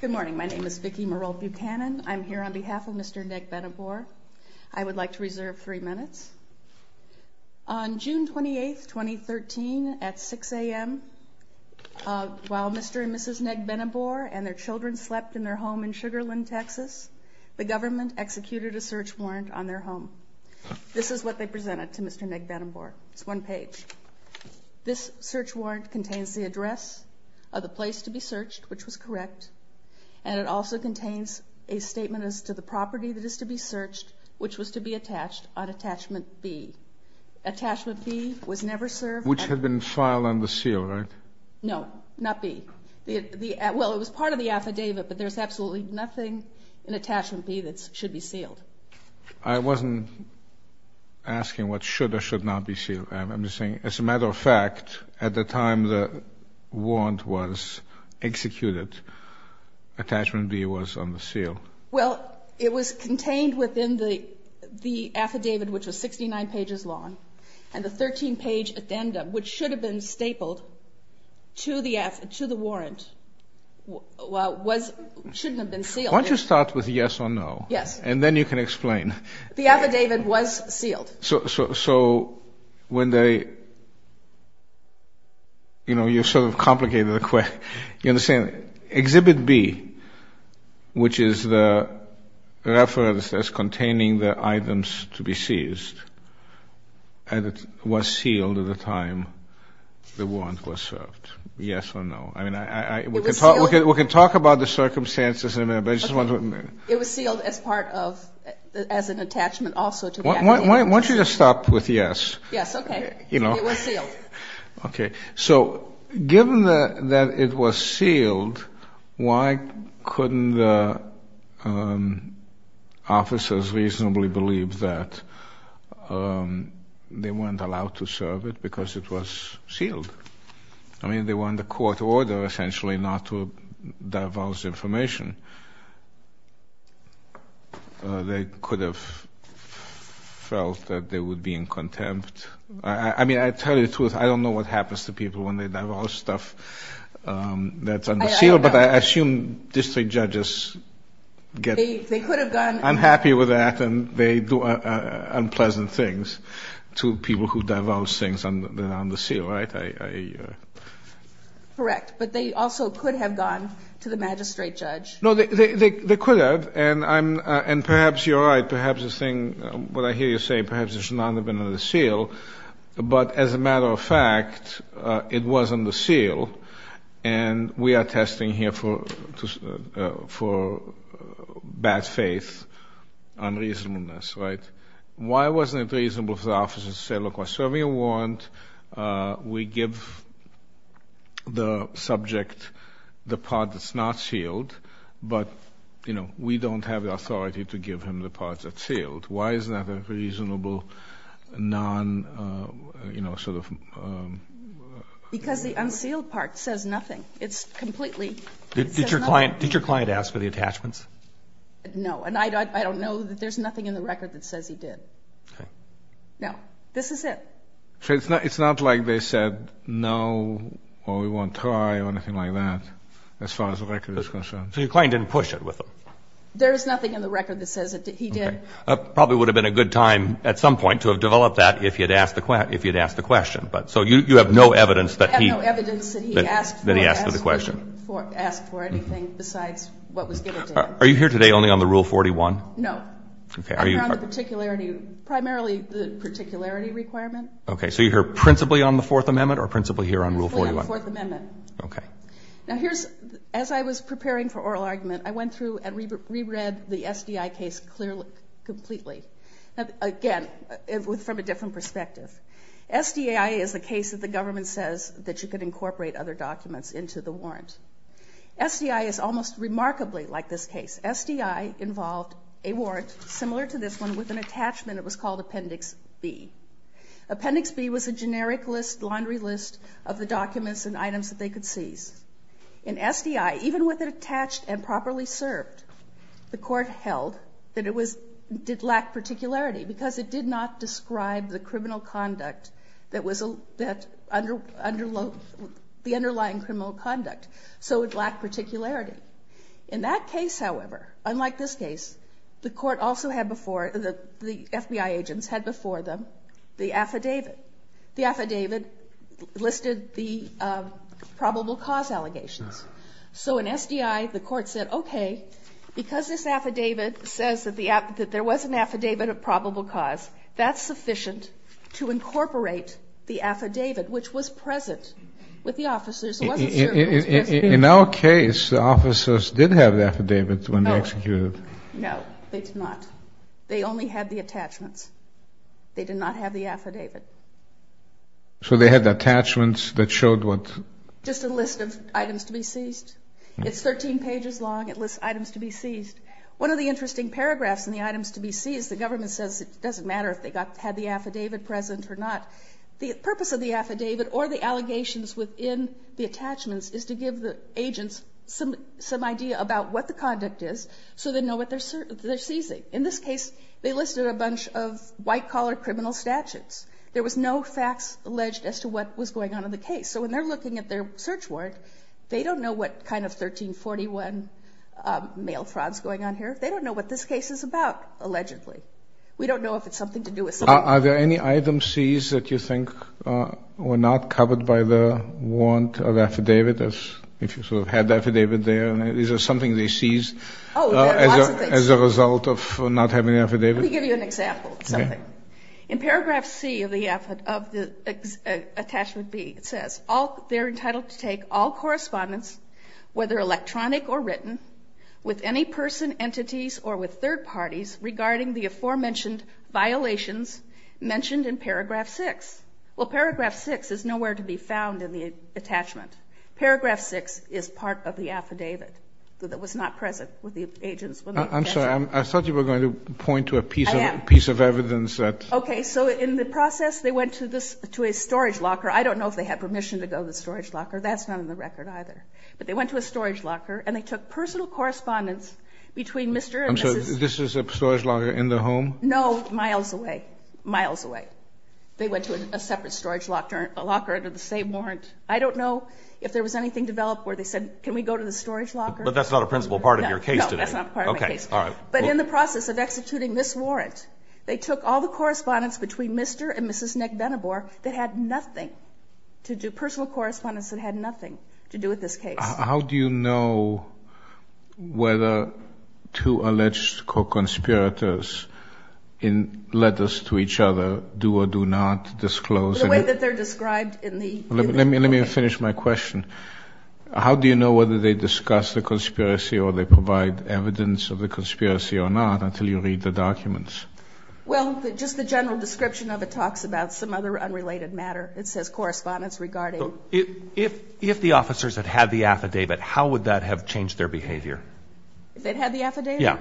Good morning, my name is Vicki Merol Buchanan. I'm here on behalf of Mr. Negbenebor. I would like to reserve three minutes. On June 28, 2013, at 6 a.m., while Mr. and Mrs. Negbenebor and their children slept in their home in Sugarland, Texas, the government executed a search warrant on their home. This is what they presented to Mr. Negbenebor. It's one page. This search warrant contains the address of the place to be searched, which was correct, and it also contains a statement as to the property that is to be searched, which was to be attached on Attachment B. Attachment B was never served. Which had been filed under seal, right? No, not B. Well, it was part of the affidavit, but there's absolutely nothing in Attachment B that should be sealed. I wasn't asking what the warrant was executed. Attachment B was on the seal. Well, it was contained within the affidavit, which was 69 pages long, and the 13-page addendum, which should have been stapled to the warrant, shouldn't have been sealed. Why don't you start with yes or no? Yes. And then you can explain. The You know, you sort of complicated the question. You understand, Exhibit B, which is the reference that's containing the items to be seized, and it was sealed at the time the warrant was served. Yes or no? I mean, we can talk about the circumstances. It was sealed as part of, as an attachment also. Why don't you start with yes? Yes, okay. It was sealed. Okay. So given that it was sealed, why couldn't the officers reasonably believe that they weren't allowed to serve it because it was sealed? I mean, they were under court order, essentially, not to be in contempt. I mean, I tell you the truth. I don't know what happens to people when they divulge stuff that's on the seal, but I assume district judges get... They could have gone... I'm happy with that, and they do unpleasant things to people who divulge things that are on the seal, right? Correct, but they also could have gone to the magistrate judge. No, they could have, and perhaps you're saying perhaps there should not have been on the seal, but as a matter of fact, it wasn't the seal, and we are testing here for bad faith, unreasonableness, right? Why wasn't it reasonable for the officers to say, look, we're serving a warrant. We give the subject the part that's not sealed, but we don't have the authority to give him the part that's sealed. Why is that a reasonable non... Because the unsealed part says nothing. It's completely... Did your client ask for the attachments? No, and I don't know that there's nothing in the record that says he did. Okay. No, this is it. So it's not like they said, no, or we won't try or anything like that, as far as the record is concerned? So your client didn't push it with There is nothing in the record that says that he did. Okay. It probably would have been a good time at some point to have developed that if you'd asked the question, but so you have no evidence that he... I have no evidence that he asked for anything besides what was given to him. Are you here today only on the Rule 41? No. Okay. I'm here on the particularity, primarily the particularity requirement. Okay, so you're here principally on the Fourth Amendment or principally here on Rule 41? I'm here on the Fourth Amendment. Okay. Now here's... As I was preparing for oral argument, I went through and reread the SDI case clearly, completely. Again, from a different perspective. SDI is the case that the government says that you could incorporate other documents into the warrant. SDI is almost remarkably like this case. SDI involved a warrant similar to this one with an attachment. It was called Appendix B. Appendix B was a generic list, laundry list of the documents and items that they could seize. In SDI, even with it attached and properly served, the court held that it did lack particularity because it did not describe the criminal conduct that was... The underlying criminal conduct, so it lacked particularity. In that case, however, unlike this case, the court also had before... The FBI agents had before them the affidavit. The affidavit listed the probable cause allegations. So in SDI, the court said, okay, because this affidavit says that there was an affidavit of probable cause, that's sufficient to incorporate the affidavit which was present with the officers. It wasn't served... In our case, the officers did have the affidavit when they executed. No, they did not. They only had the affidavit. They did not have the affidavit. So they had attachments that showed what... Just a list of items to be seized. It's 13 pages long. It lists items to be seized. One of the interesting paragraphs in the items to be seized, the government says it doesn't matter if they got... Had the affidavit present or not. The purpose of the affidavit or the allegations within the attachments is to give the agents some idea about what the conduct is so they know what they're seizing. In this case, they listed a bunch of white collar criminal statutes. There was no facts alleged as to what was going on in the case. So when they're looking at their search warrant, they don't know what kind of 1341 mail fraud is going on here. They don't know what this case is about, allegedly. We don't know if it's something to do with... Are there any items seized that you think were not covered by the warrant of affidavit? If you sort of had the affidavit there, is there something they seized as a result of not having an affidavit? Let me give you an example of something. In paragraph C of the attachment B, it says, they're entitled to take all correspondence, whether electronic or written, with any person, entities, or with third parties, regarding the aforementioned violations mentioned in paragraph 6. Well, paragraph 6 is nowhere to be found in the attachment. Paragraph 6 is part of the affidavit. It was not present with the agents. I'm sorry, I thought you were going to point to a piece of evidence that... I am. Okay, so in the process, they went to a storage locker. I don't know if they had permission to go to the storage locker. That's not in the record either. But they went to a storage locker, and they took personal correspondence between Mr. and Mrs... I'm sorry, this is a storage locker in the home? No, miles away. Miles away. They went to a separate storage locker, a locker under the same warrant. I don't know if there was anything developed where they said, can we go to the storage locker? But that's not a principal part of your case today. No, that's not part of my case. Okay, all right. But in the process of executing this warrant, they took all the correspondence between Mr. and Mrs. Nick Benabor that had nothing to do, personal correspondence that had nothing to do with this case. How do you know whether two alleged co-conspirators, in letters to each other, do or do not disclose... The way that they're described in the... Let me finish my question. How do you know whether they discuss the evidence of the conspiracy or not until you read the documents? Well, just the general description of it talks about some other unrelated matter. It says correspondence regarding... If the officers had had the affidavit, how would that have changed their behavior? If they'd had the affidavit? Yeah.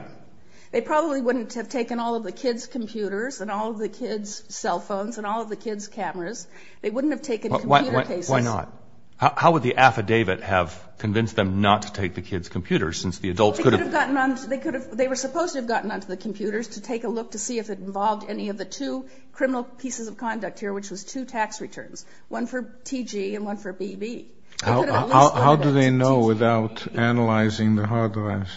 They probably wouldn't have taken all of the kids' computers and all of the kids' cell phones and all of the kids' cameras. They wouldn't have taken computer cases. Why not? How would the affidavit have convinced them not to take the kids' computers since the adults could have... They were supposed to have gotten onto the computers to take a look to see if it involved any of the two criminal pieces of conduct here, which was two tax returns, one for TG and one for BB. How do they know without analyzing the hard drives?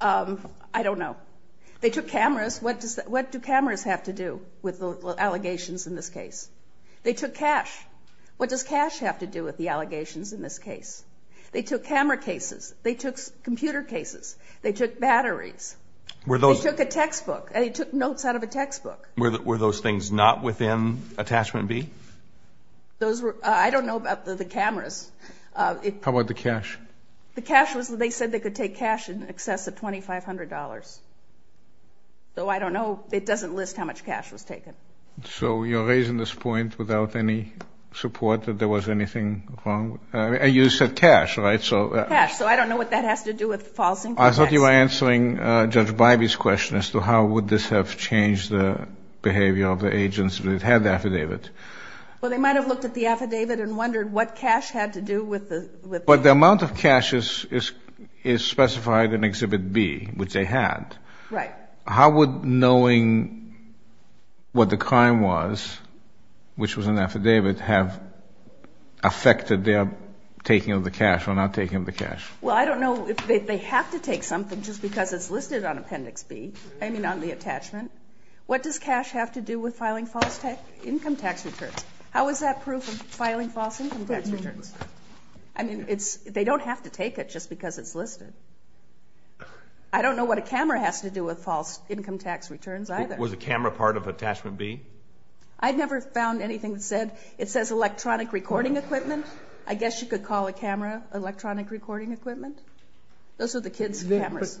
I don't know. They took cameras. What do cameras have to do with the allegations in this case? They took cash. What does cash have to do with the allegations in this case? They took camera cases. They took computer cases. They took batteries. They took a textbook. They took notes out of a textbook. Were those things not within Attachment B? Those were... I don't know about the cameras. How about the cash? The cash was... They said they could take cash in excess of $2,500. Though I don't know. It doesn't list how much cash was taken. You're raising this point without any support that there was anything wrong. You said cash, right? Cash. I don't know what that has to do with false information. I thought you were answering Judge Bybee's question as to how would this have changed the behavior of the agents that had the affidavit. They might have looked at the affidavit and wondered what cash had to do with the... The amount of cash is specified in Exhibit B, which they had. Right. How would knowing what the crime was, which was an affidavit, have affected their taking of the cash or not taking of the cash? Well, I don't know. They have to take something just because it's listed on Appendix B. I mean, on the attachment. What does cash have to do with filing false income tax returns? How is that proof of filing false income tax returns listed? I don't know what a camera has to do with false income tax returns either. Was the camera part of Attachment B? I've never found anything that said... It says electronic recording equipment. I guess you could call a camera electronic recording equipment. Those are the kids' cameras.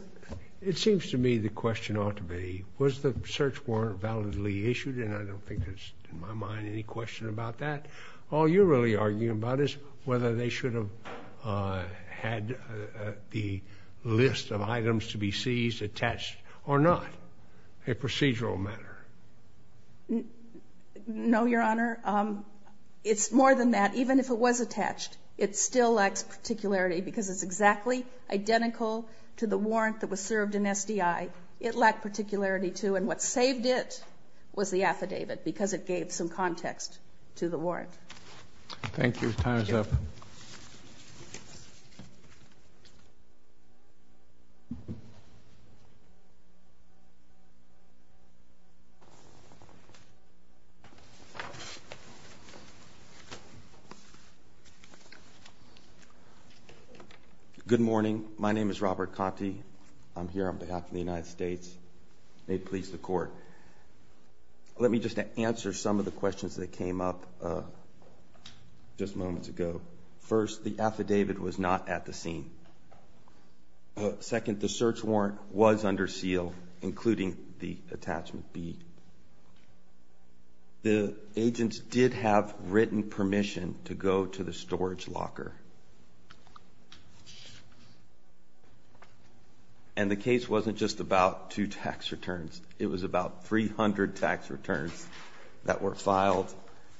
It seems to me the question ought to be, was the search warrant validly issued? And I don't think there's, in my mind, any question about that. All you're really arguing about is whether they should have had the list of items to be seized, attached, or not. A procedural matter. No, Your Honor. It's more than that. Even if it was attached, it still lacks particularity because it's exactly identical to the warrant that was served in SDI. It lacked particularity, and what saved it was the affidavit, because it gave some context to the warrant. Thank you. Time's up. Good morning. My name is Robert Conte. I'm here on behalf of the United States. May it please the Court. Let me just answer some of the questions that came up just moments ago. First, the affidavit was not at the scene. Second, the search warrant was under seal, including the Attachment B. The agents did have written permission to go to the storage It was about 300 tax returns that were filed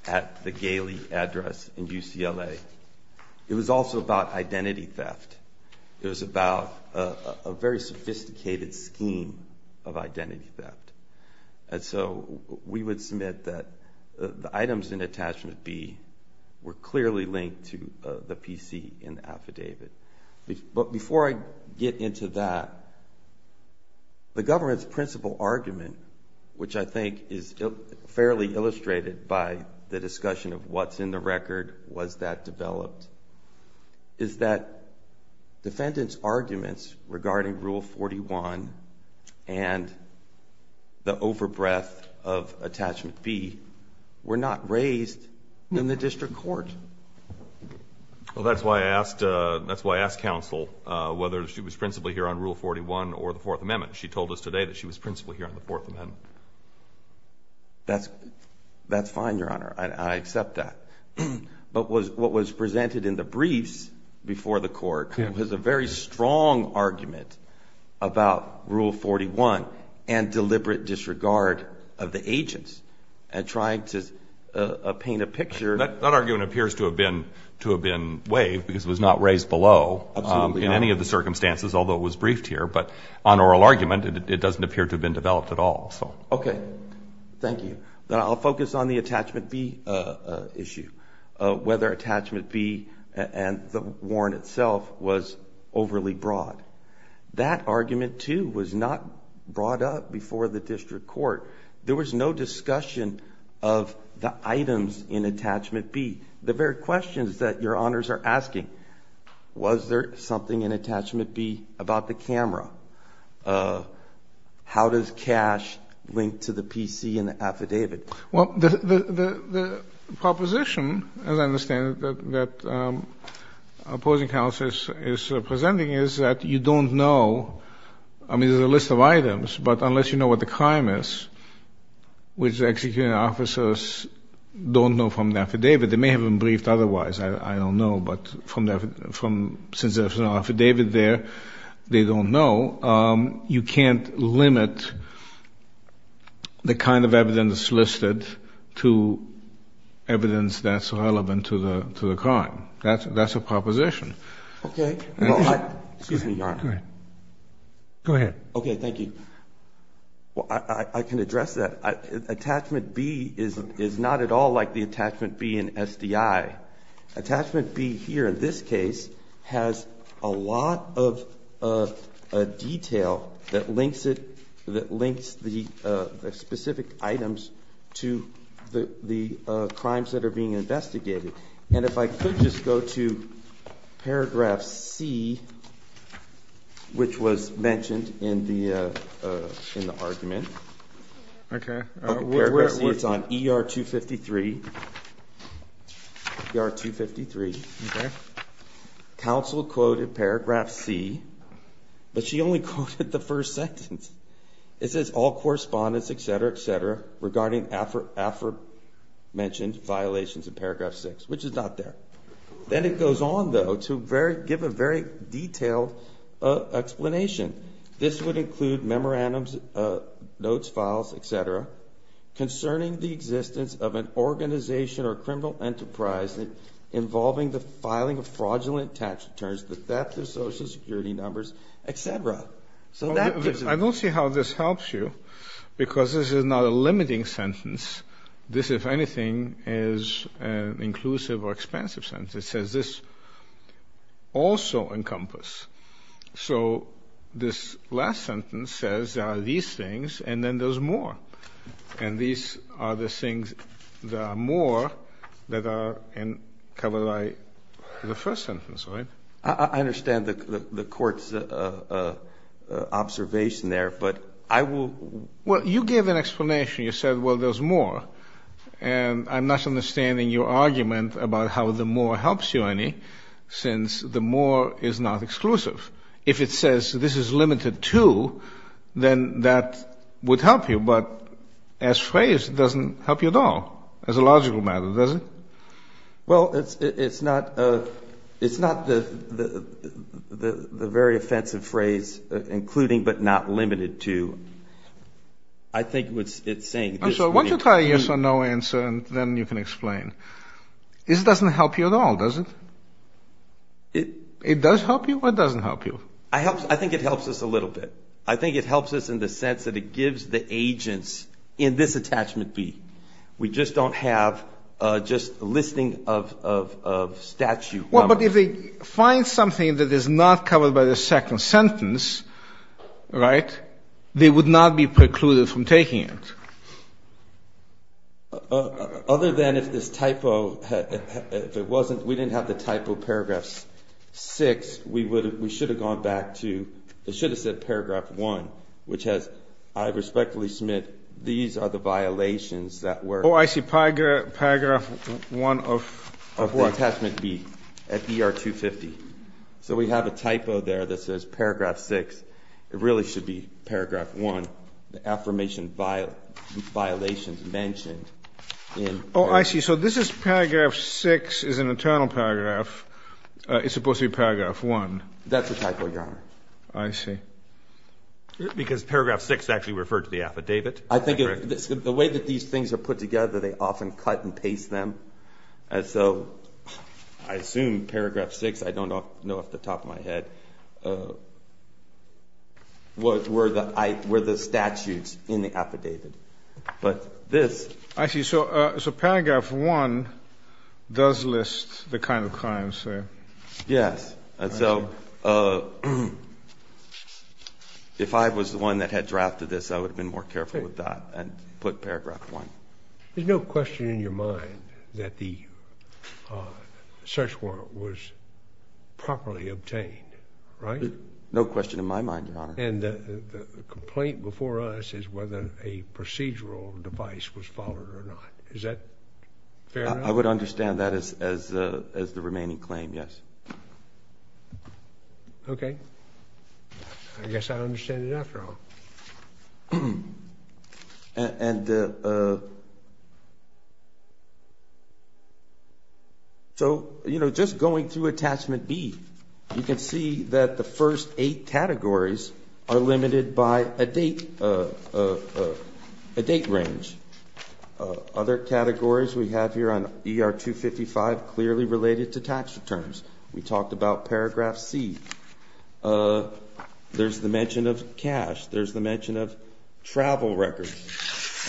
at the Galey address in UCLA. It was also about identity theft. It was about a very sophisticated scheme of identity theft. And so we would submit that the items in Attachment B were clearly linked to the PC in the affidavit. But before I get into that, the government's principal argument, which I think is fairly illustrated by the discussion of what's in the record, was that developed, is that defendant's arguments regarding Rule 41 and the over-breath of Attachment B were not raised in the district court. Well, that's why I asked, that's why I asked counsel whether she was principally here on Rule 41 or the Fourth Amendment. She told us today that she was principally here on the Fourth Amendment. That's fine, Your Honor. I accept that. But what was presented in the briefs before the court was a very strong argument about Rule 41 and deliberate disregard of the agents and trying to paint a picture. That argument appears to have been waived because it was not raised below in any of the circumstances, although it was briefed here. But on oral argument, it doesn't appear to have been developed at all. Okay. Thank you. Then I'll focus on the Attachment B issue, whether Attachment B and the warrant itself was overly broad. That argument, too, was not brought up before the district court. There was no discussion of the items in Attachment B. The very questions that Your Honors are asking, was there something in Attachment B about the camera? How does cash link to the P.C. in the affidavit? Well, the proposition, as I understand it, that opposing counsel is presenting is that you don't know. I mean, there's a list of items, but unless you know what the crime is, which the executing officers don't know from the affidavit, they may have been briefed otherwise. I don't know. But from the affidavit there, they don't know. You can't limit the kind of evidence listed to evidence that's relevant to the crime. That's a proposition. Okay. Excuse me, Your Honor. Go ahead. Okay, thank you. I can address that. Attachment B is not at all like the Attachment B in SDI. Attachment B here, in this case, has a lot of detail that links the specific items to the crimes that are being investigated. And if I could just go to Paragraph C, which was mentioned in the argument. Okay. It's on ER 253. Council quoted Paragraph C, but she only quoted the first sentence. It says, all correspondents, regarding aforementioned violations in Paragraph 6, which is not there. Then it goes on, though, to give a very detailed explanation. This would include memorandums, notes, files, etc., concerning the existence of an organization or criminal enterprise involving the filing of fraudulent tax returns, the theft of Social Security numbers, etc. I don't see how this is not a limiting sentence. This, if anything, is an inclusive or expansive sentence. It says, this also encompass. So this last sentence says there are these things, and then there's more. And these are the things that are more that are covered by the first sentence, right? I understand the Court's observation there, but I will... Well, you gave an explanation. You said, well, there's more. And I'm not understanding your argument about how the more helps you, Ernie, since the more is not exclusive. If it says this is limited to, then that would help you. But as phrased, it doesn't help you at all as a logical matter, does it? Well, it's not the very offensive phrase, including but not limited to. I think it's saying... I'm sorry, why don't you try a yes or no answer, and then you can explain. This doesn't help you at all, does it? It does help you or it doesn't help you? I think it helps us a little bit. I think it helps us in the sense that it gives the agents in this attachment B. We just don't have just a listing of statute numbers. Well, but if they find something that is not covered by the second sentence, right, they would not be precluded from taking it. Other than if this typo, if it wasn't, we didn't have the typo paragraphs 6, we should have gone back to, we should have said paragraph 1, which has, I respectfully submit, these are the violations that were... Oh, I see. Paragraph 1 of... Of what? Attachment B at ER 250. So we have a typo there that says paragraph 6. It really should be paragraph 1, the affirmation violations mentioned in... Oh, I see. So this is paragraph 6 is an internal paragraph. It's supposed to be paragraph 1. That's a typo, Your Honor. I see. Because paragraph 6 actually referred to the affidavit. I think the way that these things are put together, they often cut and paste them. And so I assume paragraph 6, I don't know off the top of my head, were the statutes in the affidavit. But this... I see. So paragraph 1 does list the kind of crimes. Yes. And so if I was the one that had drafted this, I would have been more careful with that and put paragraph 1. There's no question in your mind that the search warrant was properly obtained, right? No question in my mind, Your Honor. And the complaint before us is whether a procedural device was followed or not. Is that fair? I would understand that as the remaining claim, yes. Okay. I guess I understand it after all. And so, you know, just going through attachment B, you can see that the first eight categories are limited by a date range. Other categories we have here on ER 255 clearly related to tax returns. We talked about paragraph C. There's the mention of cash. There's the mention of travel records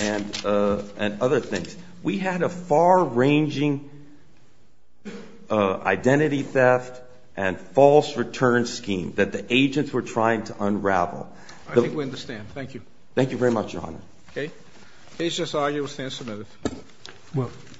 and other things. We had a far-ranging identity theft and false return scheme that the agents were trying to unravel. I think we understand. Thank you. Thank you very much, Your Honor. Okay. Case just argued. We'll stand submitted. Move.